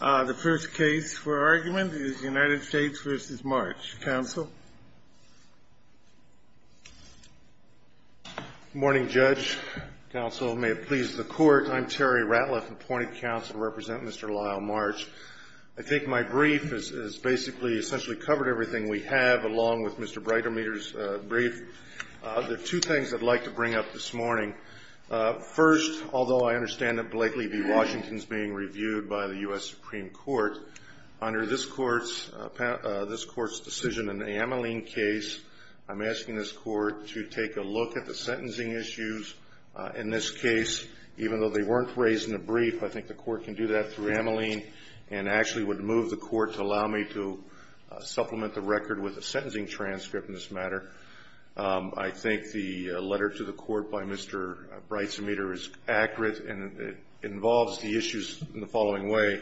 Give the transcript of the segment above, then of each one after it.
The first case for argument is United States v. March. Counsel? Good morning, Judge. Counsel, may it please the Court, I'm Terry Ratliff, appointed counsel to represent Mr. Lyle March. I think my brief has basically essentially covered everything we have, along with Mr. Breitermeter's brief. There are two things I'd like to bring up this morning. First, although I understand that Blakely v. Washington is being reviewed by the U.S. Supreme Court, under this Court's decision in the Ameline case, I'm asking this Court to take a look at the sentencing issues in this case. Even though they weren't raised in the brief, I think the Court can do that through Ameline and actually would move the Court to allow me to supplement the record with a sentencing transcript in this matter. I think the letter to the Court by Mr. Breitermeter is accurate, and it involves the issues in the following way.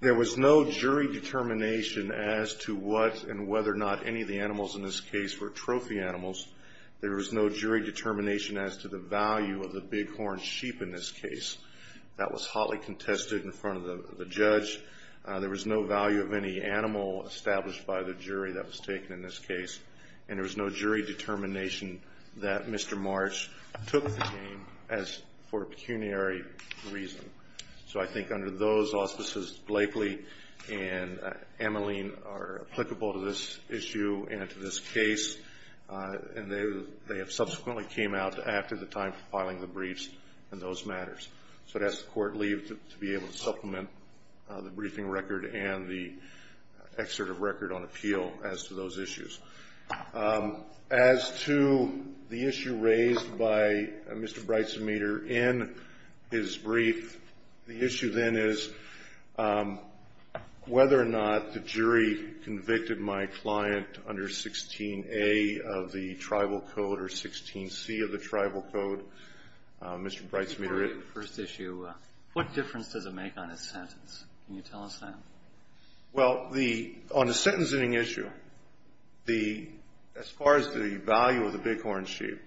There was no jury determination as to what and whether or not any of the animals in this case were trophy animals. There was no jury determination as to the value of the bighorn sheep in this case. That was hotly contested in front of the judge. There was no value of any animal established by the jury that was taken in this case. And there was no jury determination that Mr. Marsh took the game as for a pecuniary reason. So I think under those auspices, Blakely and Ameline are applicable to this issue and to this case. And they have subsequently came out after the time for filing the briefs in those matters. So I'd ask the Court leave to be able to supplement the briefing record and the excerpt of record on appeal as to those issues. As to the issue raised by Mr. Breitermeter in his brief, the issue then is whether or not the jury convicted my client under 16A of the Tribal Code or 16C of the Tribal Code. Mr. Breitermeter. First issue, what difference does it make on his sentence? Can you tell us that? Well, on the sentencing issue, as far as the value of the bighorn sheep,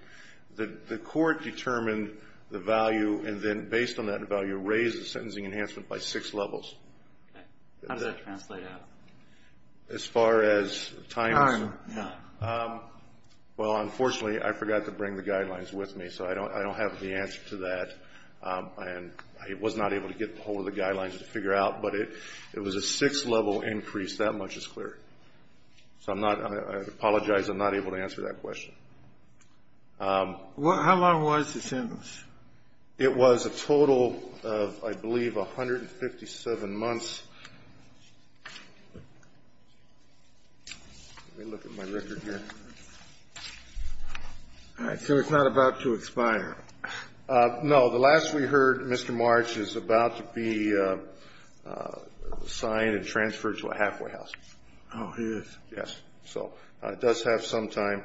the Court determined the value and then based on that value raised the sentencing enhancement by six levels. Okay. How does that translate out? As far as times? Time, yeah. Well, unfortunately, I forgot to bring the guidelines with me, so I don't have the answer to that. And I was not able to get ahold of the guidelines to figure out, but it was a six-level increase. That much is clear. So I apologize. I'm not able to answer that question. How long was the sentence? It was a total of, I believe, 157 months. Let me look at my record here. All right. So it's not about to expire. No. The last we heard, Mr. March is about to be signed and transferred to a halfway house. Oh, he is. Yes. So it does have some time.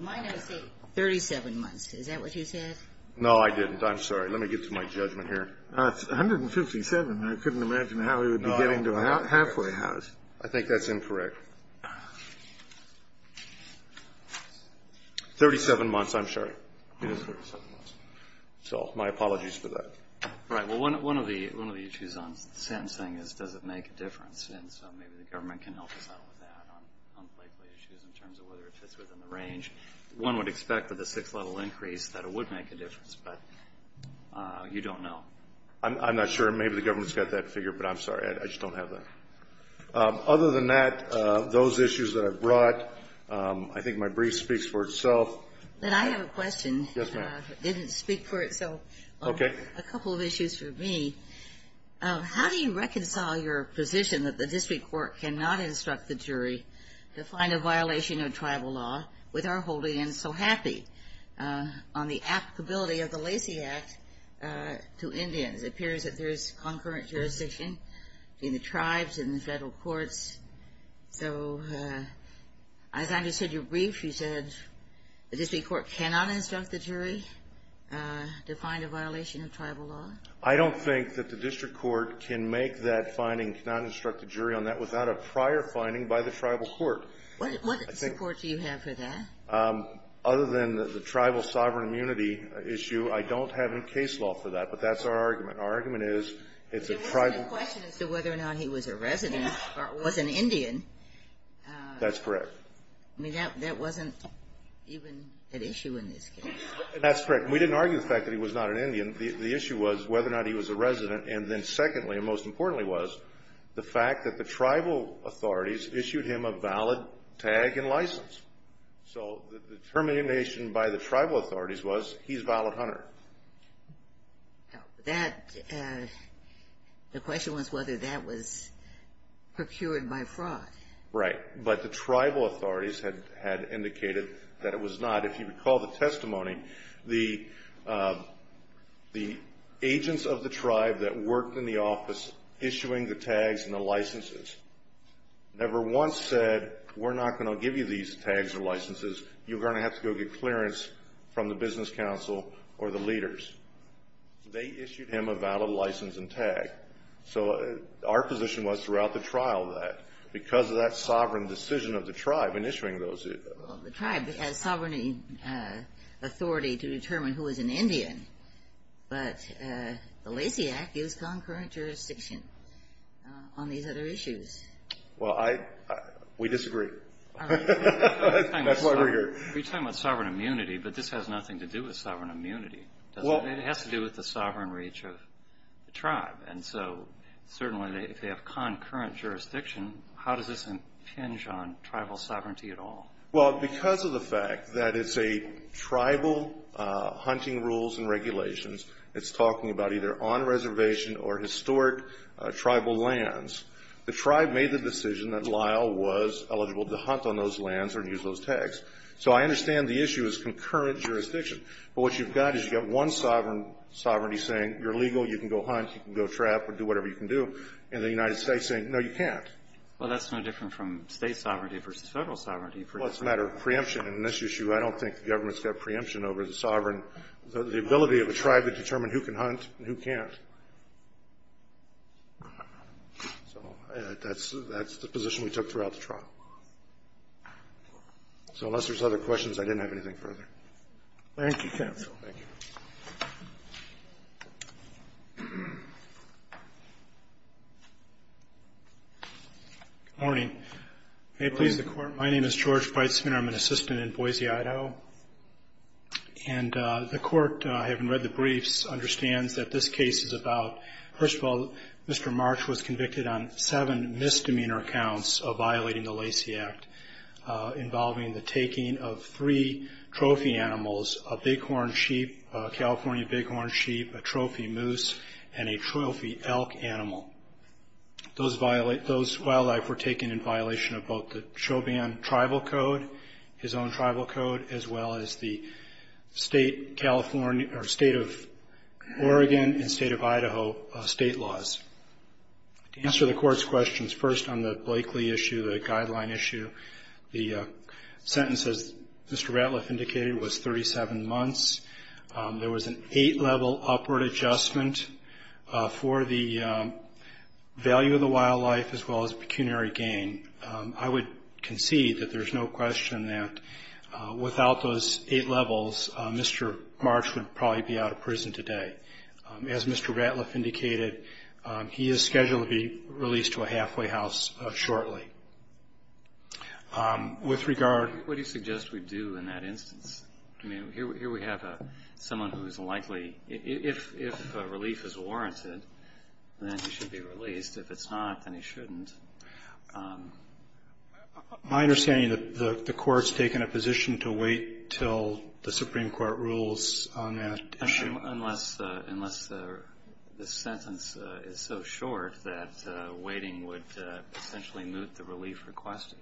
Mine says 37 months. Is that what you said? No, I didn't. I'm sorry. Let me get to my judgment here. It's 157. I couldn't imagine how he would be getting to a halfway house. I think that's incorrect. 37 months, I'm sorry. It is 37 months. So my apologies for that. Right. Well, one of the issues on the sentence thing is, does it make a difference? And so maybe the government can help us out with that on likely issues in terms of whether it fits within the range. One would expect with a six-level increase that it would make a difference, but you don't know. I'm not sure. Maybe the government's got that figured, but I'm sorry. I just don't have that. Other than that, those issues that I've brought, I think my brief speaks for itself. I have a question. Yes, ma'am. It didn't speak for itself. Okay. A couple of issues for me. How do you reconcile your position that the district court cannot instruct the jury to find a violation of tribal law, with our holding in so happy on the applicability of the Lacey Act to Indians? It appears that there is concurrent jurisdiction between the tribes and the federal courts. So as I understood your brief, you said the district court cannot instruct the jury to find a violation of tribal law? I don't think that the district court can make that finding, cannot instruct the jury on that, without a prior finding by the tribal court. What support do you have for that? Other than the tribal sovereign immunity issue, I don't have any case law for that. But that's our argument. Our argument is it's a tribal ---- It wasn't a question as to whether or not he was a resident or was an Indian. That's correct. I mean, that wasn't even an issue in this case. That's correct. We didn't argue the fact that he was not an Indian. The issue was whether or not he was a resident. And then secondly, and most importantly, was the fact that the tribal authorities issued him a valid tag and license. So the determination by the tribal authorities was he's a valid hunter. The question was whether that was procured by fraud. Right. But the tribal authorities had indicated that it was not. If you recall the testimony, the agents of the tribe that worked in the office issuing the tags and the licenses never once said, we're not going to give you these tags or licenses. You're going to have to go get clearance from the business council or the leaders. They issued him a valid license and tag. So our position was throughout the trial that because of that sovereign decision of the tribe in issuing those ---- Well, the tribe has sovereign authority to determine who is an Indian, but the Lacey Act gives concurrent jurisdiction on these other issues. Well, we disagree. That's why we're here. You're talking about sovereign immunity, but this has nothing to do with sovereign immunity, does it? It has to do with the sovereign reach of the tribe. And so certainly if they have concurrent jurisdiction, how does this impinge on tribal sovereignty at all? Well, because of the fact that it's a tribal hunting rules and regulations, it's talking about either on reservation or historic tribal lands, the tribe made the decision that Lyle was eligible to hunt on those lands or use those tags. So I understand the issue is concurrent jurisdiction. But what you've got is you've got one sovereignty saying you're legal, you can go hunt, you can go trap or do whatever you can do, and the United States saying, no, you can't. Well, that's no different from state sovereignty versus federal sovereignty. Well, it's a matter of preemption. And in this issue, I don't think the government's got preemption over the sovereign, the ability of a tribe to determine who can hunt and who can't. So that's the position we took throughout the trial. So unless there's other questions, I didn't have anything further. Thank you, counsel. Thank you. Good morning. May it please the Court. My name is George Breitsman. I'm an assistant in Boise, Idaho. And the Court, having read the briefs, understands that this case is about, first of all, Mr. March was convicted on seven misdemeanor counts of violating the Lacey Act, involving the taking of three trophy animals, a California bighorn sheep, a trophy moose, and a trophy elk animal. Those wildlife were taken in violation of both the Choban Tribal Code, his own tribal code, as well as the State of Oregon and State of Idaho state laws. To answer the Court's questions, first on the Blakely issue, the guideline issue, the sentence, as Mr. Ratliff indicated, was 37 months. There was an eight-level upward adjustment for the value of the wildlife as well as pecuniary gain. I would concede that there's no question that without those eight levels, Mr. March would probably be out of prison today. As Mr. Ratliff indicated, he is scheduled to be released to a halfway house shortly. With regard to the question, what do you suggest we do in that instance? I mean, here we have someone who is likely, if relief is warranted, then he should be released. If it's not, then he shouldn't. My understanding is that the Court has taken a position to wait until the Supreme Court rules on that issue. Unless the sentence is so short that waiting would essentially moot the relief requested.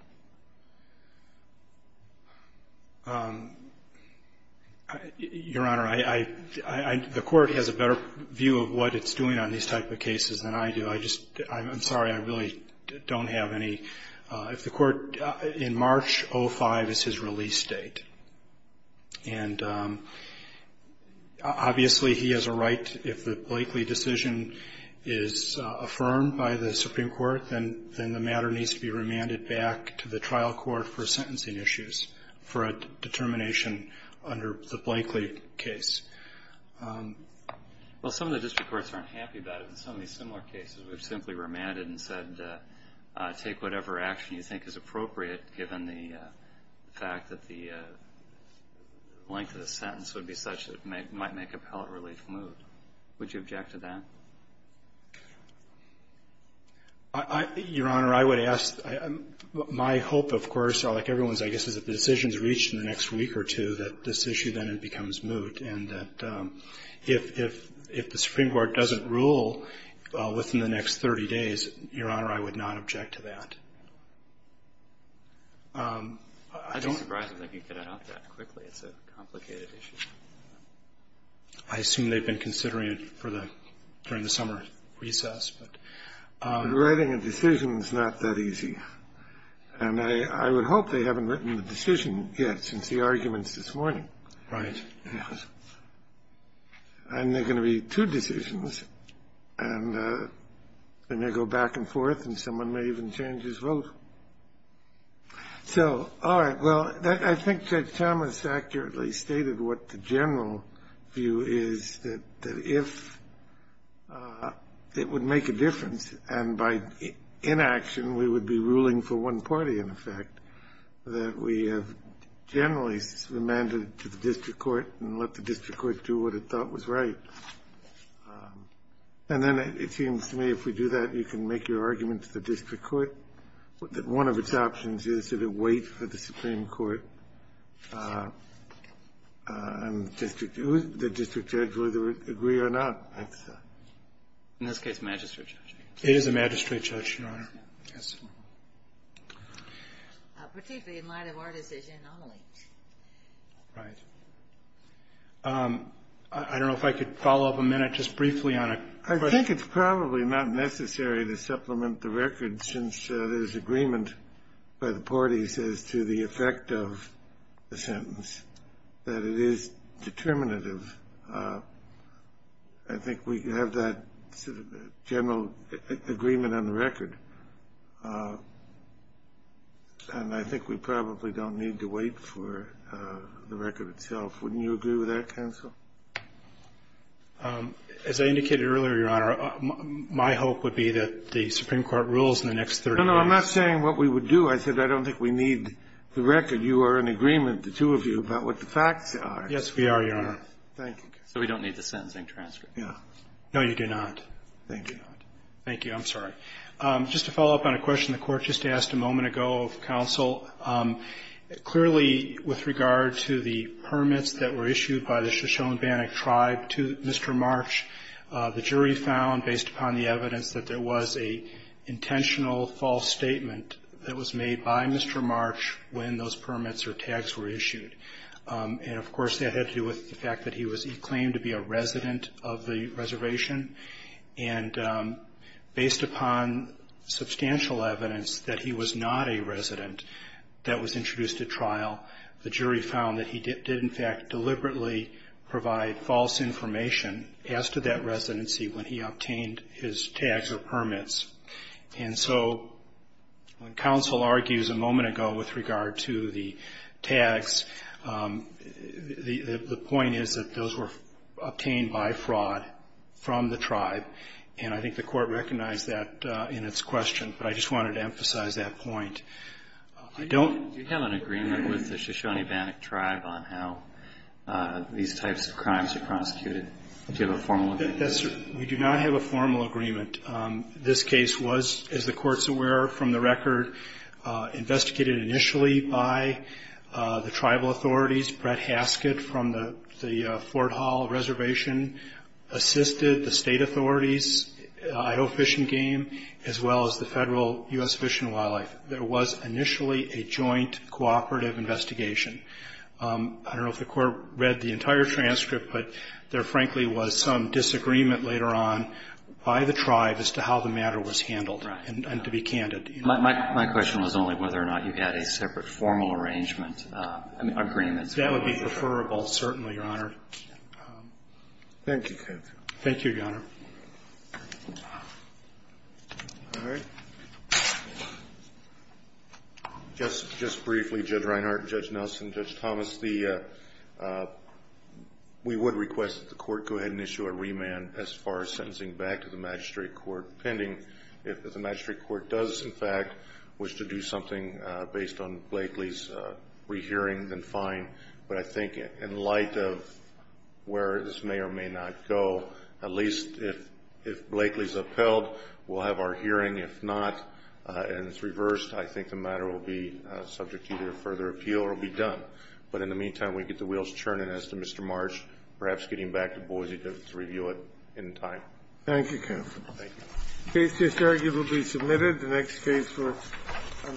Your Honor, the Court has a better view of what it's doing on these type of cases than I do. I'm sorry, I really don't have any. If the Court, in March, 05 is his release date. And obviously he has a right, if the Blakely decision is affirmed by the Supreme Court, then the matter needs to be remanded back to the trial court for sentencing issues, for a determination under the Blakely case. Well, some of the district courts aren't happy about it. In some of these similar cases, we've simply remanded and said, take whatever action you think is appropriate, given the fact that the length of the sentence would be such that it might make appellate relief moot. Would you object to that? Your Honor, I would ask. My hope, of course, like everyone's, I guess, is if the decision is reached in the next week or two, that this issue then becomes moot. And that if the Supreme Court doesn't rule within the next 30 days, Your Honor, I would not object to that. I don't think you can add on that quickly. It's a complicated issue. I assume they've been considering it during the summer recess. Writing a decision is not that easy. And I would hope they haven't written the decision yet, since the arguments this morning. Right. And there are going to be two decisions. And they may go back and forth, and someone may even change his vote. So all right. Well, I think Judge Thomas accurately stated what the general view is, that if it would make a difference and by inaction we would be ruling for one party, in effect, that we have generally remanded to the district court and let the district court do what it thought was right. And then it seems to me if we do that, you can make your argument to the district court, that one of its options is to wait for the Supreme Court and the district judge whether to agree or not. In this case, magistrate judge. Yes. Particularly in light of our decision, Amelie. Right. I don't know if I could follow up a minute just briefly on a question. I think it's probably not necessary to supplement the record, since there's agreement by the parties as to the effect of the sentence, that it is determinative. I think we have that general agreement on the record. And I think we probably don't need to wait for the record itself. Wouldn't you agree with that, counsel? As I indicated earlier, Your Honor, my hope would be that the Supreme Court rules in the next 30 days. No, no, I'm not saying what we would do. I said I don't think we need the record. You are in agreement, the two of you, about what the facts are. Yes, we are, Your Honor. Thank you. So we don't need the sentencing transcript. No, you do not. Thank you. Thank you. I'm sorry. Just to follow up on a question the Court just asked a moment ago of counsel, clearly with regard to the permits that were issued by the Shoshone-Bannock tribe to Mr. March, the jury found, based upon the evidence, that there was an intentional false statement that was made by Mr. March when those permits or tags were issued. And, of course, that had to do with the fact that he claimed to be a resident of the reservation. And based upon substantial evidence that he was not a resident that was introduced at trial, the jury found that he did, in fact, deliberately provide false information as to that residency And so when counsel argues a moment ago with regard to the tags, the point is that those were obtained by fraud from the tribe. And I think the Court recognized that in its question. But I just wanted to emphasize that point. Do you have an agreement with the Shoshone-Bannock tribe on how these types of crimes are prosecuted? Do you have a formal agreement? We do not have a formal agreement. This case was, as the Court is aware from the record, investigated initially by the tribal authorities. Brett Haskett from the Fort Hall Reservation assisted the state authorities, Idaho Fish and Game, as well as the federal U.S. Fish and Wildlife. There was initially a joint cooperative investigation. I don't know if the Court read the entire transcript, but there frankly was some disagreement later on by the tribe as to how the matter was handled, and to be candid. My question was only whether or not you had a separate formal arrangement, agreement. That would be preferable, certainly, Your Honor. Thank you, counsel. Thank you, Your Honor. All right. Just briefly, Judge Reinhart, Judge Nelson, Judge Thomas, we would request that the Court go ahead and issue a remand as far as sentencing back to the Magistrate Court pending. If the Magistrate Court does, in fact, wish to do something based on Blakely's rehearing, then fine. But I think in light of where this may or may not go, at least if Blakely's upheld, we'll have our hearing. If not, and it's reversed, I think the matter will be subject to either further appeal or be done. But in the meantime, we get the wheels turning as to Mr. Marsh perhaps getting back to Boise to review it in time. Thank you, counsel. Thank you. The case is arguably submitted. The next case on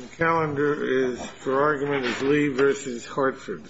the calendar for argument is Lee v. Hartford.